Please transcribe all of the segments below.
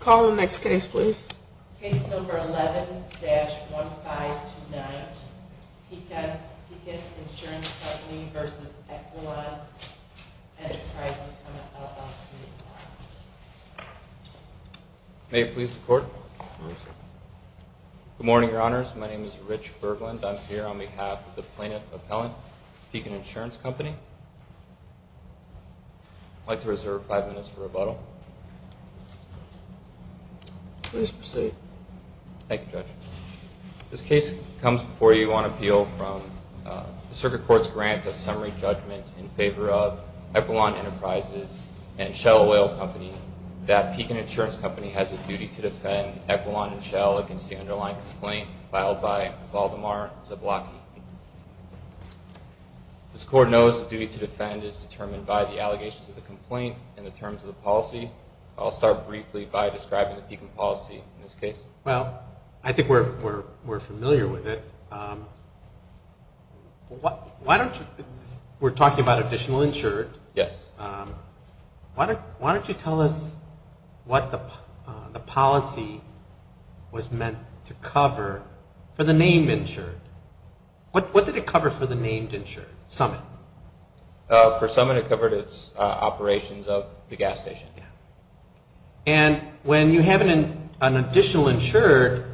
Call the next case please. Case number 11-1529, Pekin Insurance Company v. Equilon Enterprises, LLC. May it please the Court. Good morning, Your Honors. My name is Rich Berglund. I'm here on behalf of the plaintiff appellant, Pekin Insurance Company. I'd like to reserve five minutes for rebuttal. Please proceed. Thank you, Judge. This case comes before you on appeal from the Circuit Court's grant of summary judgment in favor of Equilon Enterprises and Shell Oil Company that Pekin Insurance Company has a duty to defend Equilon and Shell against the underlying complaint filed by Valdemar Zablocki. This Court knows the duty to defend is determined by the allegations of the complaint and the terms of the policy. I'll start briefly by describing the Pekin policy in this case. Well, I think we're familiar with it. We're talking about additional insured. Yes. Why don't you tell us what the policy was meant to cover for the named insured? What did it cover for the named insured? For Summit, it covered its operations of the gas station. And when you have an additional insured,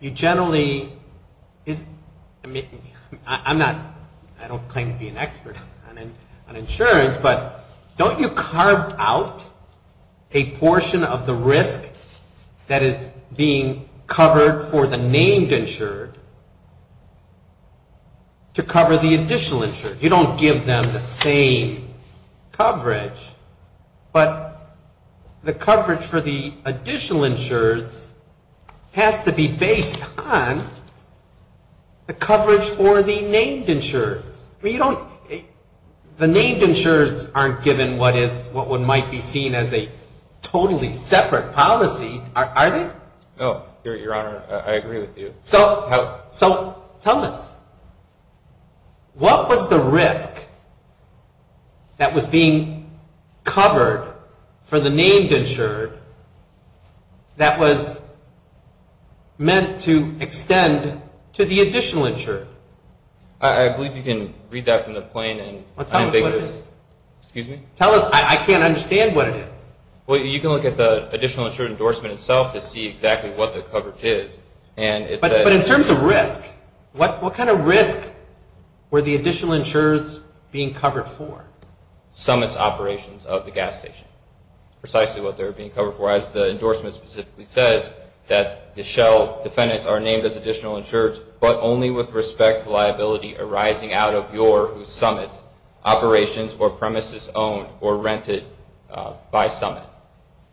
you generally... I don't claim to be an expert on insurance, but don't you carve out a portion of the risk that is being covered for the named insured to cover the additional insured? You don't give them the same coverage. But the coverage for the additional insureds has to be based on the coverage for the named insureds. The named insureds aren't given what might be seen as a totally separate policy, are they? No, Your Honor. I agree with you. So, tell us. What was the risk that was being covered for the named insured that was meant to extend to the additional insured? I believe you can read that from the plain and... Well, tell us what it is. Excuse me? Tell us. I can't understand what it is. Well, you can look at the additional insured endorsement itself to see exactly what the coverage is. But in terms of risk, what kind of risk were the additional insureds being covered for? Summits operations of the gas station. Precisely what they were being covered for. As the endorsement specifically says, that the shell defendants are named as additional insureds, but only with respect to liability arising out of your summits, operations, or premises owned or rented by Summit.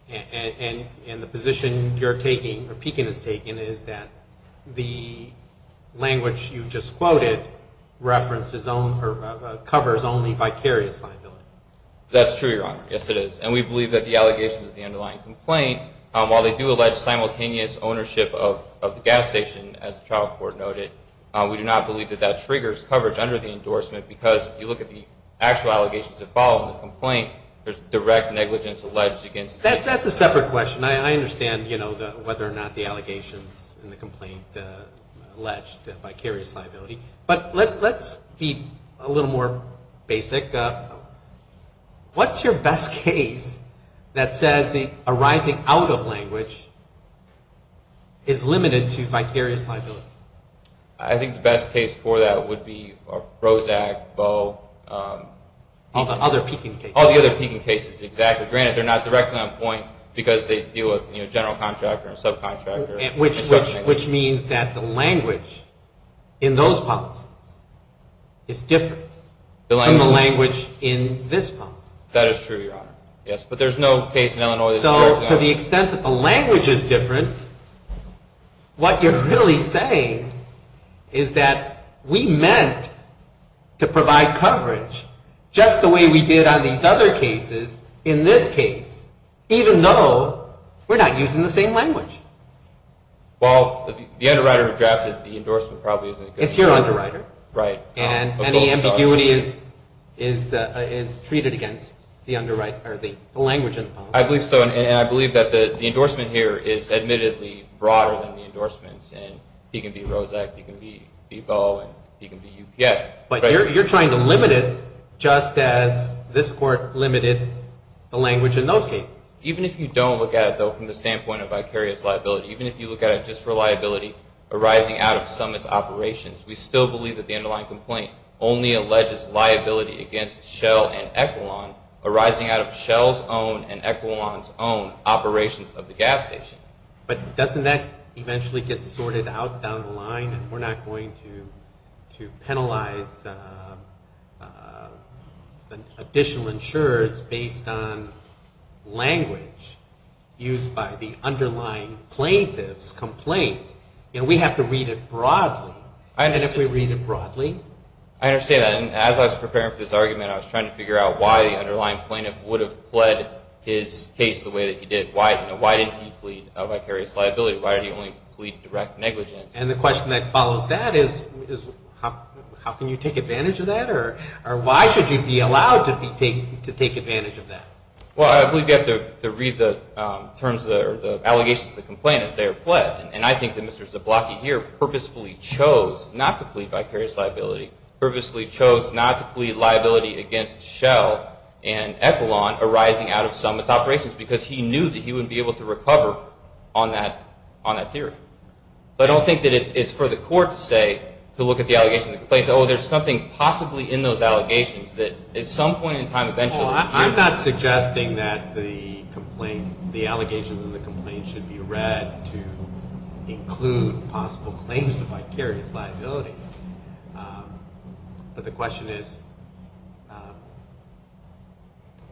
And the position you're taking, or Pekin is taking, is that the language you just quoted covers only vicarious liability. That's true, Your Honor. Yes, it is. And we believe that the allegations of the underlying complaint, while they do allege simultaneous ownership of the gas station, as the trial court noted, we do not believe that that triggers coverage under the endorsement. Because if you look at the actual allegations that follow the complaint, there's direct negligence alleged against the gas station. That's a separate question. I understand, you know, whether or not the allegations in the complaint alleged vicarious liability. But let's be a little more basic. What's your best case that says the arising out of language is limited to vicarious liability? I think the best case for that would be Roszak, Bowe, Pekin. All the other Pekin cases. All the other Pekin cases, exactly. Granted, they're not directly on point because they deal with, you know, general contractor and subcontractor. Which means that the language in those policies is different from the language in this policy. That is true, Your Honor. Yes, but there's no case in Illinois that's directly on point. Well, to the extent that the language is different, what you're really saying is that we meant to provide coverage just the way we did on these other cases in this case, even though we're not using the same language. Well, the underwriter who drafted the endorsement probably isn't going to... It's your underwriter. Right. And the ambiguity is treated against the language in the policy. I believe so, and I believe that the endorsement here is admittedly broader than the endorsements in Pekin v. Roszak, Pekin v. Bowe, and Pekin v. UPS. But you're trying to limit it just as this Court limited the language in those cases. Even if you don't look at it, though, from the standpoint of vicarious liability, even if you look at it just for liability arising out of summits operations, we still believe that the underlying complaint only alleges liability against Shell and Echelon arising out of Shell's own and Echelon's own operations of the gas station. But doesn't that eventually get sorted out down the line, and we're not going to penalize additional insurers based on language used by the underlying plaintiff's complaint? We have to read it broadly, and if we read it broadly... I understand that, and as I was preparing for this argument, I was trying to figure out why the underlying plaintiff would have pled his case the way that he did. Why didn't he plead vicarious liability? Why did he only plead direct negligence? And the question that follows that is how can you take advantage of that, or why should you be allowed to take advantage of that? Well, I believe you have to read the allegations of the complaint as they are pled, and I think that Mr. Zablocki here purposefully chose not to plead vicarious liability, purposefully chose not to plead liability against Shell and Echelon arising out of summits operations, because he knew that he wouldn't be able to recover on that theory. So I don't think that it's for the court to say, to look at the allegations of the complaint, oh, there's something possibly in those allegations that at some point in time eventually... I'm not suggesting that the allegations in the complaint should be read to include possible claims of vicarious liability, but the question is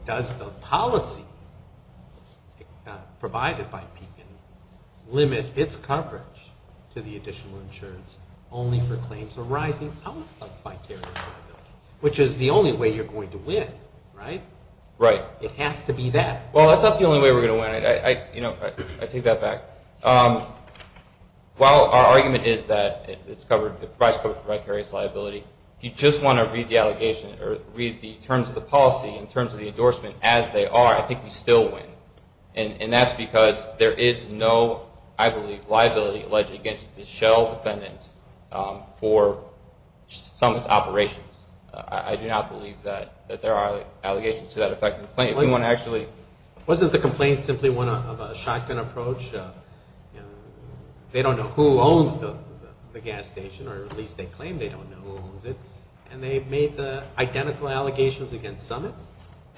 does the policy provided by Pekin limit its coverage to the additional insurance only for claims arising out of vicarious liability, which is the only way you're going to win, right? Right. It has to be that. Well, that's not the only way we're going to win. I take that back. While our argument is that it's covered, it provides coverage for vicarious liability, if you just want to read the terms of the policy in terms of the endorsement as they are, I think you still win, and that's because there is no, I believe, liability alleged against the Shell defendants for Summit's operations. I do not believe that there are allegations to that effect in the complaint. Wasn't the complaint simply one of a shotgun approach? They don't know who owns the gas station, or at least they claim they don't know who owns it, and they've made the identical allegations against Summit,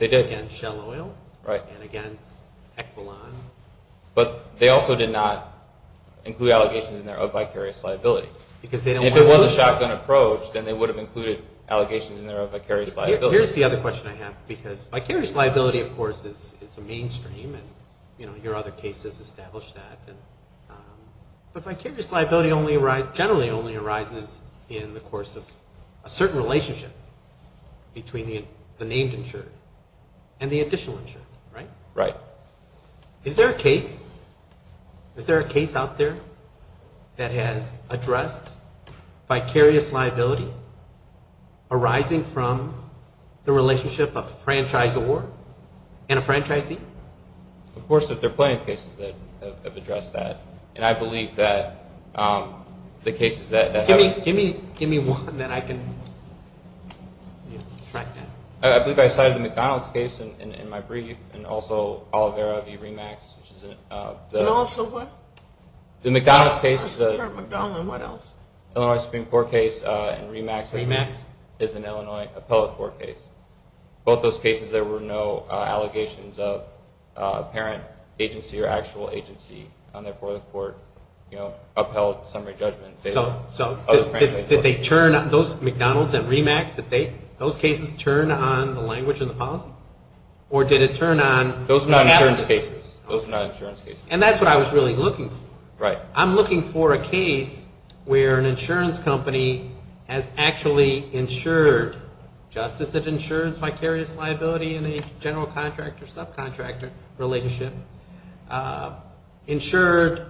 against Shell Oil, and against Equilon. But they also did not include allegations in there of vicarious liability. If it was a shotgun approach, then they would have included allegations in there of vicarious liability. Here's the other question I have, because vicarious liability, of course, is a mainstream, and your other cases establish that. But vicarious liability generally only arises in the course of a certain relationship between the named insured and the additional insured, right? Right. Is there a case out there that has addressed vicarious liability arising from the relationship of franchise award and a franchisee? Of course, there are plenty of cases that have addressed that, and I believe that the cases that have Give me one that I can track down. I believe I cited the McDonald's case in my brief, and also Olivera v. Remax, which is And also what? The McDonald's case I just heard McDonald, and what else? Illinois Supreme Court case and Remax Remax? is an Illinois appellate court case. Both those cases, there were no allegations of parent agency or actual agency, and therefore the court upheld summary judgment. So did they turn on those McDonald's and Remax, did those cases turn on the language and the policy? Or did it turn on Those are not insurance cases. And that's what I was really looking for. I'm looking for a case where an insurance company has actually insured, just as it insures vicarious liability in a general Contract or subcontractor relationship, insured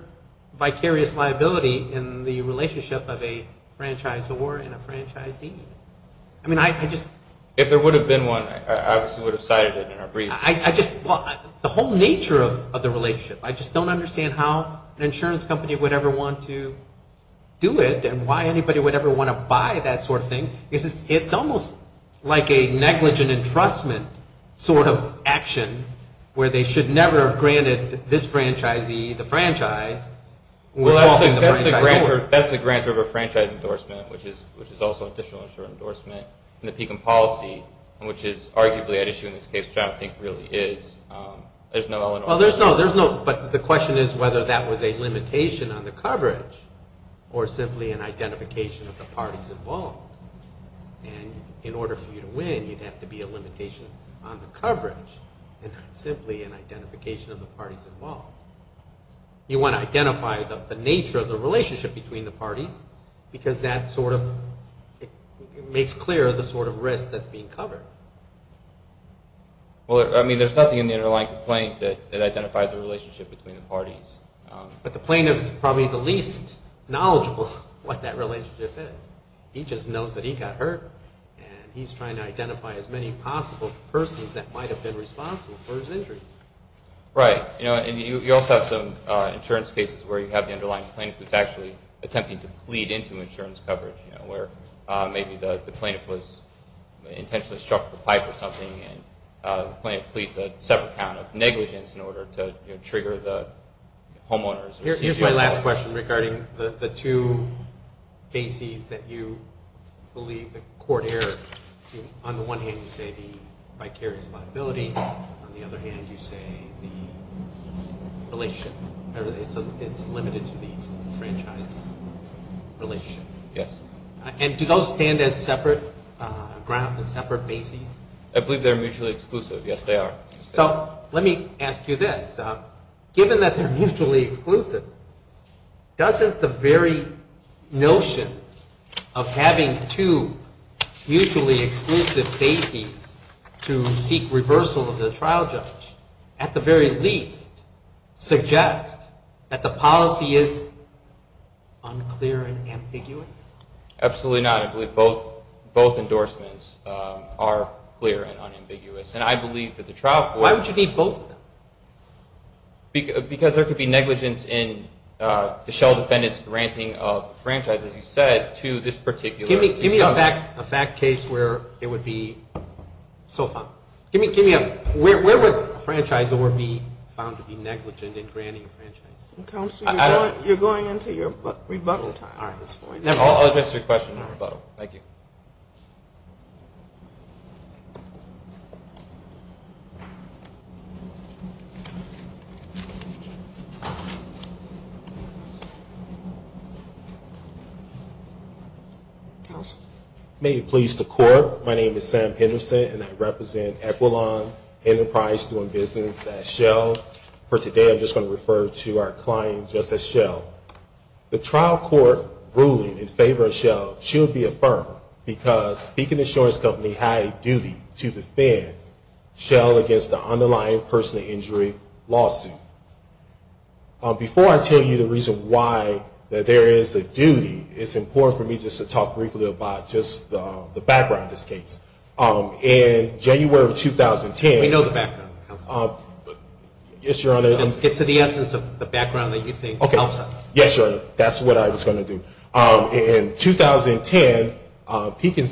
vicarious liability in the relationship of a franchise award and a franchisee. I mean, I just If there would have been one, I obviously would have cited it in our brief. The whole nature of the relationship. I just don't understand how an insurance company would ever want to do it, and why anybody would ever want to buy that sort of thing. It's almost like a negligent entrustment sort of action, where they should never have granted this franchisee the franchise. That's the grant of a franchise endorsement, which is also an additional insurance endorsement. In the PECOM policy, which is arguably at issue in this case, which I don't think really is, there's no element of Well, there's no, but the question is whether that was a limitation on the coverage, or simply an identification of the parties involved. And in order for you to win, you'd have to be a limitation on the coverage, and not simply an identification of the parties involved. You want to identify the nature of the relationship between the parties, because that sort of makes clear the sort of risk that's being covered. Well, I mean, there's nothing in the underlying complaint that identifies the relationship between the parties. But the plaintiff is probably the least knowledgeable of what that relationship is. He just knows that he got hurt, and he's trying to identify as many possible persons that might have been responsible for his injuries. Right. And you also have some insurance cases where you have the underlying plaintiff who's actually attempting to plead into insurance coverage, where maybe the plaintiff was intentionally struck with a pipe or something, and the plaintiff pleads a separate count of negligence in order to trigger the homeowners. Here's my last question regarding the two bases that you believe the court erred. On the one hand, you say the vicarious liability. On the other hand, you say the relationship. It's limited to the franchise relationship. Yes. And do those stand as separate grounds, as separate bases? I believe they're mutually exclusive. Yes, they are. So let me ask you this. Given that they're mutually exclusive, doesn't the very notion of having two mutually exclusive bases to seek reversal of the trial judge at the very least suggest that the policy is unclear and ambiguous? Absolutely not. I believe both endorsements are clear and unambiguous. And I believe that the trial court Why would you need both of them? Because there could be negligence in the shell defendant's granting of the franchise, as you said, to this particular Give me a fact case where it would be so found. Where would a franchisor be found to be negligent in granting a franchise? Counselor, you're going into your rebuttal time at this point. I'll address your question in rebuttal. Thank you. May it please the court. My name is Sam Henderson, and I represent Equilon Enterprise doing business at Shell. For today, I'm just going to refer to our client just as Shell. The trial court ruling in favor of Shell should be affirmed because Beacon Insurance Company had a duty to defend Shell against the underlying personal injury lawsuit. Before I tell you the reason why there is a duty, it's important for me just to talk briefly about just the background of this case. In January of 2010 We know the background, Counselor. Yes, Your Honor. Just get to the essence of the background that you think helps us. Yes, Your Honor. That's what I was going to do. In 2010, Beacon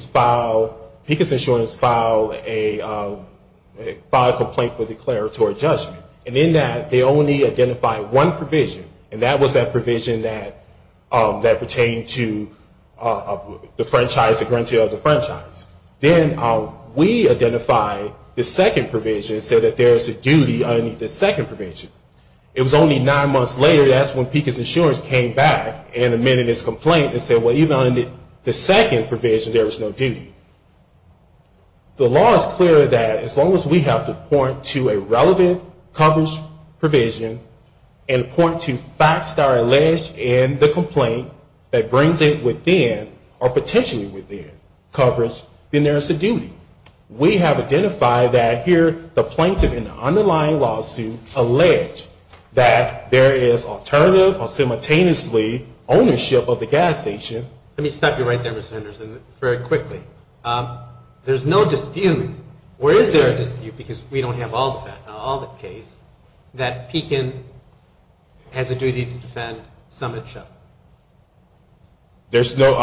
Insurance filed a complaint for declaratory judgment. And in that, they only identified one provision. And that was that provision that pertained to the franchise, the granting of the franchise. Then we identified the second provision and said that there is a duty under the second provision. It was only nine months later, that's when Beacon Insurance came back and amended its complaint and said, well, even under the second provision, there was no duty. The law is clear that as long as we have to point to a relevant coverage provision and point to facts that are alleged in the charge, then there is a duty. We have identified that here, the plaintiff in the underlying lawsuit alleged that there is alternative or simultaneously ownership of the gas station. Let me stop you right there, Mr. Henderson, very quickly. There's no dispute, or is there a dispute, because we don't have all the cases, that Beacon has a duty to defend Summit Shuttle. There's no,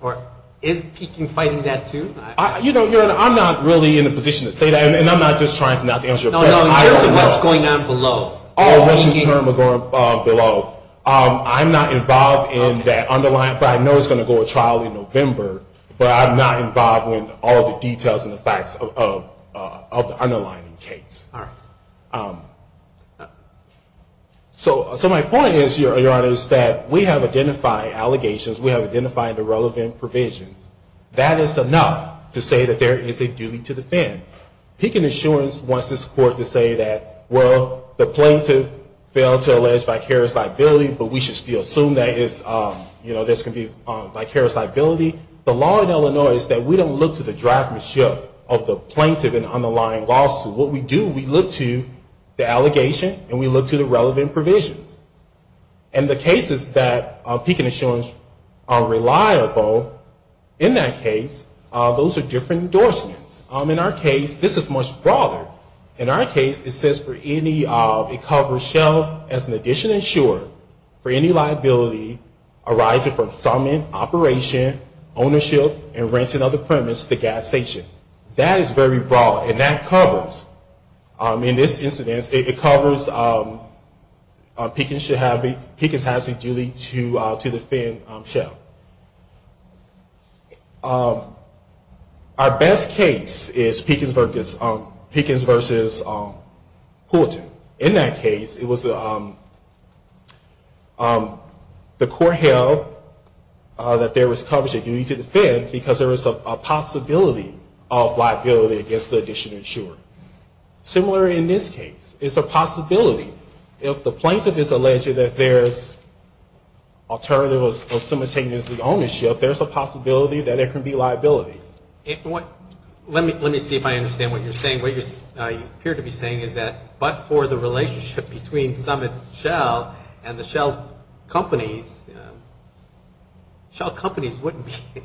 or is Beacon fighting that too? You know, I'm not really in a position to say that, and I'm not just trying not to answer your question. No, no, in terms of what's going on below. Oh, what's in terms of going below. I'm not involved in that underlying, but I know it's going to go to trial in November. But I'm not involved in all the details and the facts of the underlying case. All right. So my point is, Your Honor, is that we have identified allegations. We have identified the relevant provisions. That is enough to say that there is a duty to defend. Beacon Insurance wants this court to say that, well, the plaintiff failed to allege vicarious liability, but we should still assume that there's going to be vicarious liability. The law in Illinois is that we don't look to the draftmanship of the plaintiff in the underlying lawsuit. What we do, we look to the allegation, and we look to the relevant provisions. And the cases that Beacon Insurance are reliable in that case, those are different endorsements. In our case, this is much broader. In our case, it says for any, it covers shell as an addition insurer for any liability arising from summing, operation, ownership, and renting of the premise, the gas station. That is very broad, and that covers, in this instance, it covers Beacon's hazard duty to defend shell. Our best case is Beacon's versus Poulton. In that case, it was the court held that there was coverage of duty to defend because there was a possibility of liability against the addition insurer. Similar in this case. It's a possibility. If the plaintiff is alleging that there's alternatives of simultaneously ownership, there's a possibility that it could be liability. Let me see if I understand what you're saying. What you appear to be saying is that but for the relationship between Summit Shell and the shell companies, shell companies wouldn't be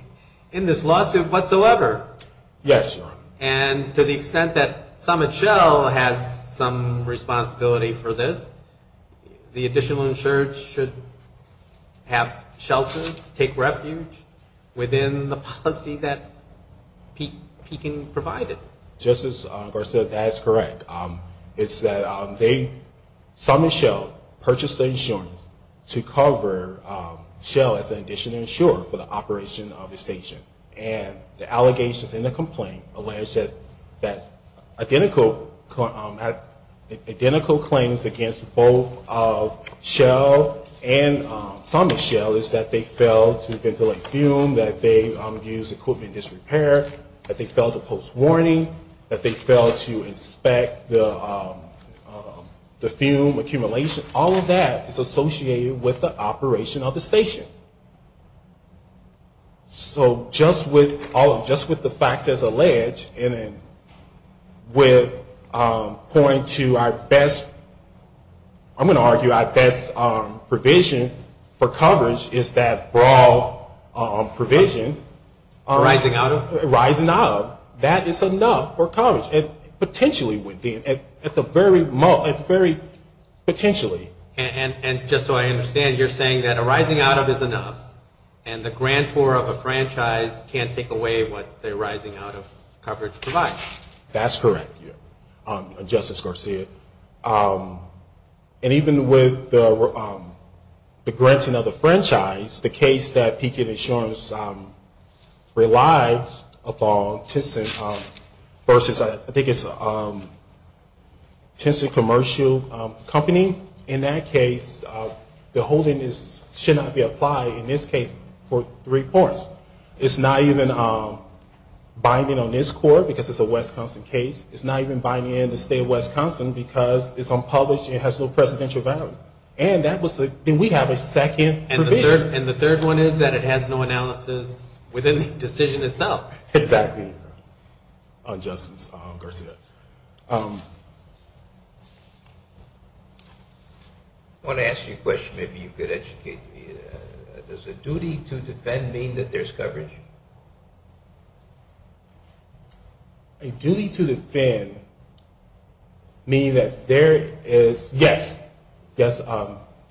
in this lawsuit whatsoever. Yes, Your Honor. And to the extent that Summit Shell has some responsibility for this, the additional insurer should have shelter, take refuge within the policy that Beacon provided. Justice Garcia, that is correct. It's that they, Summit Shell, purchased the insurance to cover shell as an addition insurer for the operation of the station. And the allegations in the complaint alleged that identical claims against both Shell and Summit Shell is that they failed to ventilate fume, that they used equipment in disrepair, that they failed to post warning, that they failed to inspect the fume accumulation. All of that is associated with the operation of the station. So just with all of, just with the facts as alleged, and with point to our best, I'm going to argue our best provision for coverage is that broad provision. Arising out of? Arising out of. That is enough for coverage. Potentially within, at the very most, very potentially. And just so I understand, you're saying that arising out of is enough, and the grantor of a franchise can't take away what the arising out of coverage provides. That's correct, Justice Garcia. And even with the granting of the franchise, the case that Beacon Insurance relied upon, Tencent versus, I think it's Tencent Commercial Company, in that case, the holding should not be applied, in this case, for three points. It's not even binding on this court because it's a Wisconsin case. It's not even binding on the state of Wisconsin because it's unpublished and it has no presidential value. And that was, then we have a second provision. And the third one is that it has no analysis within the decision itself. Exactly. Justice Garcia. I want to ask you a question, maybe you could educate me. Does a duty to defend mean that there's coverage? A duty to defend, meaning that there is, yes, yes,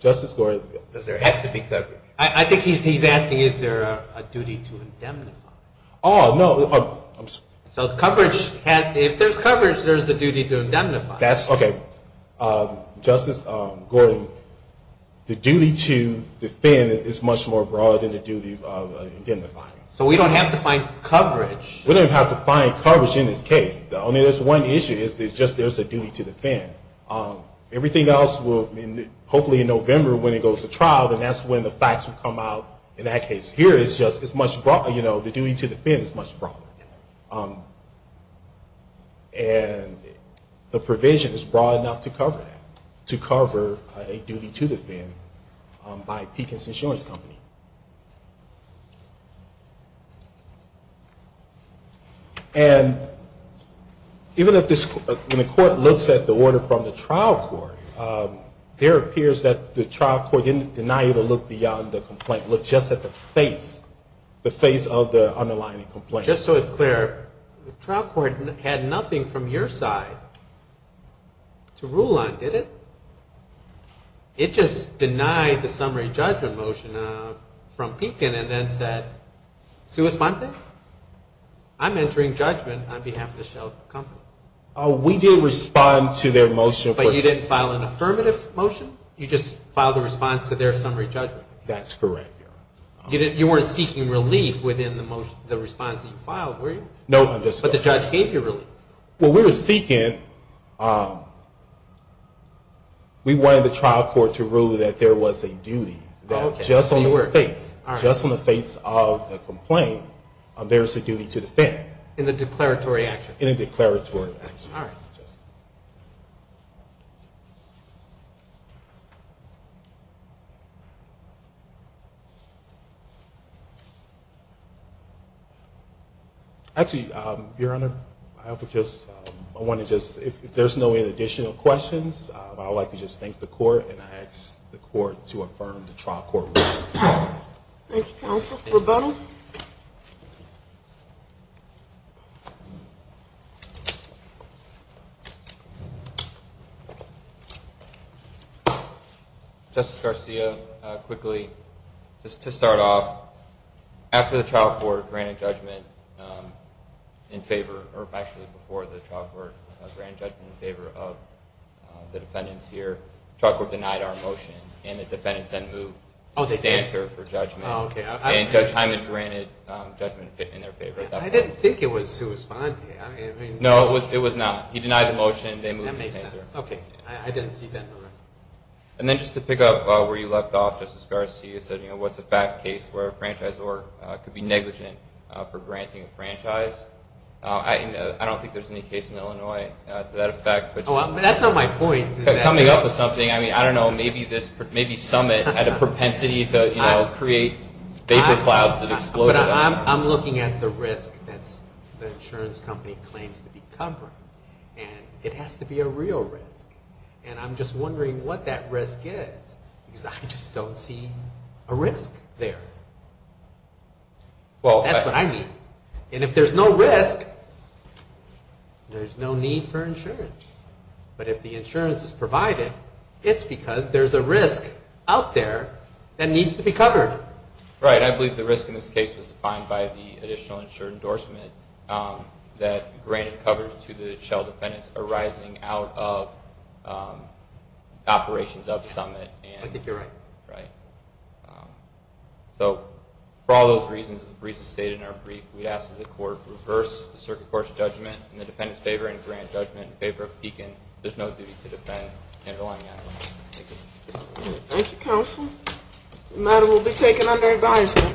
Justice Gore. Does there have to be coverage? I think he's asking is there a duty to indemnify. Oh, no. So coverage, if there's coverage, there's a duty to indemnify. That's, okay. Justice Gordon, the duty to defend is much more broad than the duty of indemnifying. So we don't have to find coverage. We don't have to find coverage in this case. The only, there's one issue is that just there's a duty to defend. Everything else will, hopefully in November when it goes to trial, then that's when the facts will come out in that case. Here it's just, it's much broader, you know, the duty to defend is much broader. And the provision is broad enough to cover that, to cover a duty to defend by Pekins Insurance Company. And even if this, when the court looks at the order from the trial court, there appears that the trial court didn't deny you to look beyond the complaint. Look just at the face, the face of the underlying complaint. Just so it's clear, the trial court had nothing from your side to rule on, did it? It just denied the summary judgment motion from Pekin and then said, I'm entering judgment on behalf of the shell company. We did respond to their motion. But you didn't file an affirmative motion? You just filed a response to their summary judgment? That's correct. You weren't seeking relief within the response that you filed, were you? No. But the judge gave you relief. Well, we were seeking, we wanted the trial court to rule that there was a duty, that just on the face, just on the face of the complaint, there's a duty to defend. In the declaratory action? In the declaratory action. All right. Actually, Your Honor, I want to just, if there's no additional questions, I would like to just thank the court and ask the court to affirm the trial court ruling. Thank you, counsel. Rebuttal? Justice Garcia, quickly, just to start off, after the trial court granted judgment in favor, or actually before the trial court granted judgment in favor of the defendants here, the trial court denied our motion, and the defendants then moved to stand for judgment. Oh, okay. And Judge Hyman granted judgment in their favor. I didn't think it was sui sponte. No, it was not. He denied the motion. That makes sense. Okay. I didn't see that. And then just to pick up where you left off, Justice Garcia, you said what's a fact case where a franchisor could be negligent for granting a franchise? I don't think there's any case in Illinois to that effect. That's not my point. Coming up with something, I mean, I don't know, maybe Summit had a propensity to create vapor clouds that exploded. I'm looking at the risk that the insurance company claims to be covering, and it has to be a real risk. And I'm just wondering what that risk is because I just don't see a risk there. That's what I mean. And if there's no risk, there's no need for insurance. But if the insurance is provided, it's because there's a risk out there that needs to be covered. Right. I believe the risk in this case was defined by the additional insured endorsement that granted coverage to the shell defendants arising out of operations of Summit. I think you're right. Right. So for all those reasons, the reasons stated in our brief, we'd ask that the court reverse the circuit court's judgment in the defendant's favor and grant judgment in favor of Pekin. There's no duty to defend underlying evidence. Thank you. Thank you, counsel. The matter will be taken under advisement.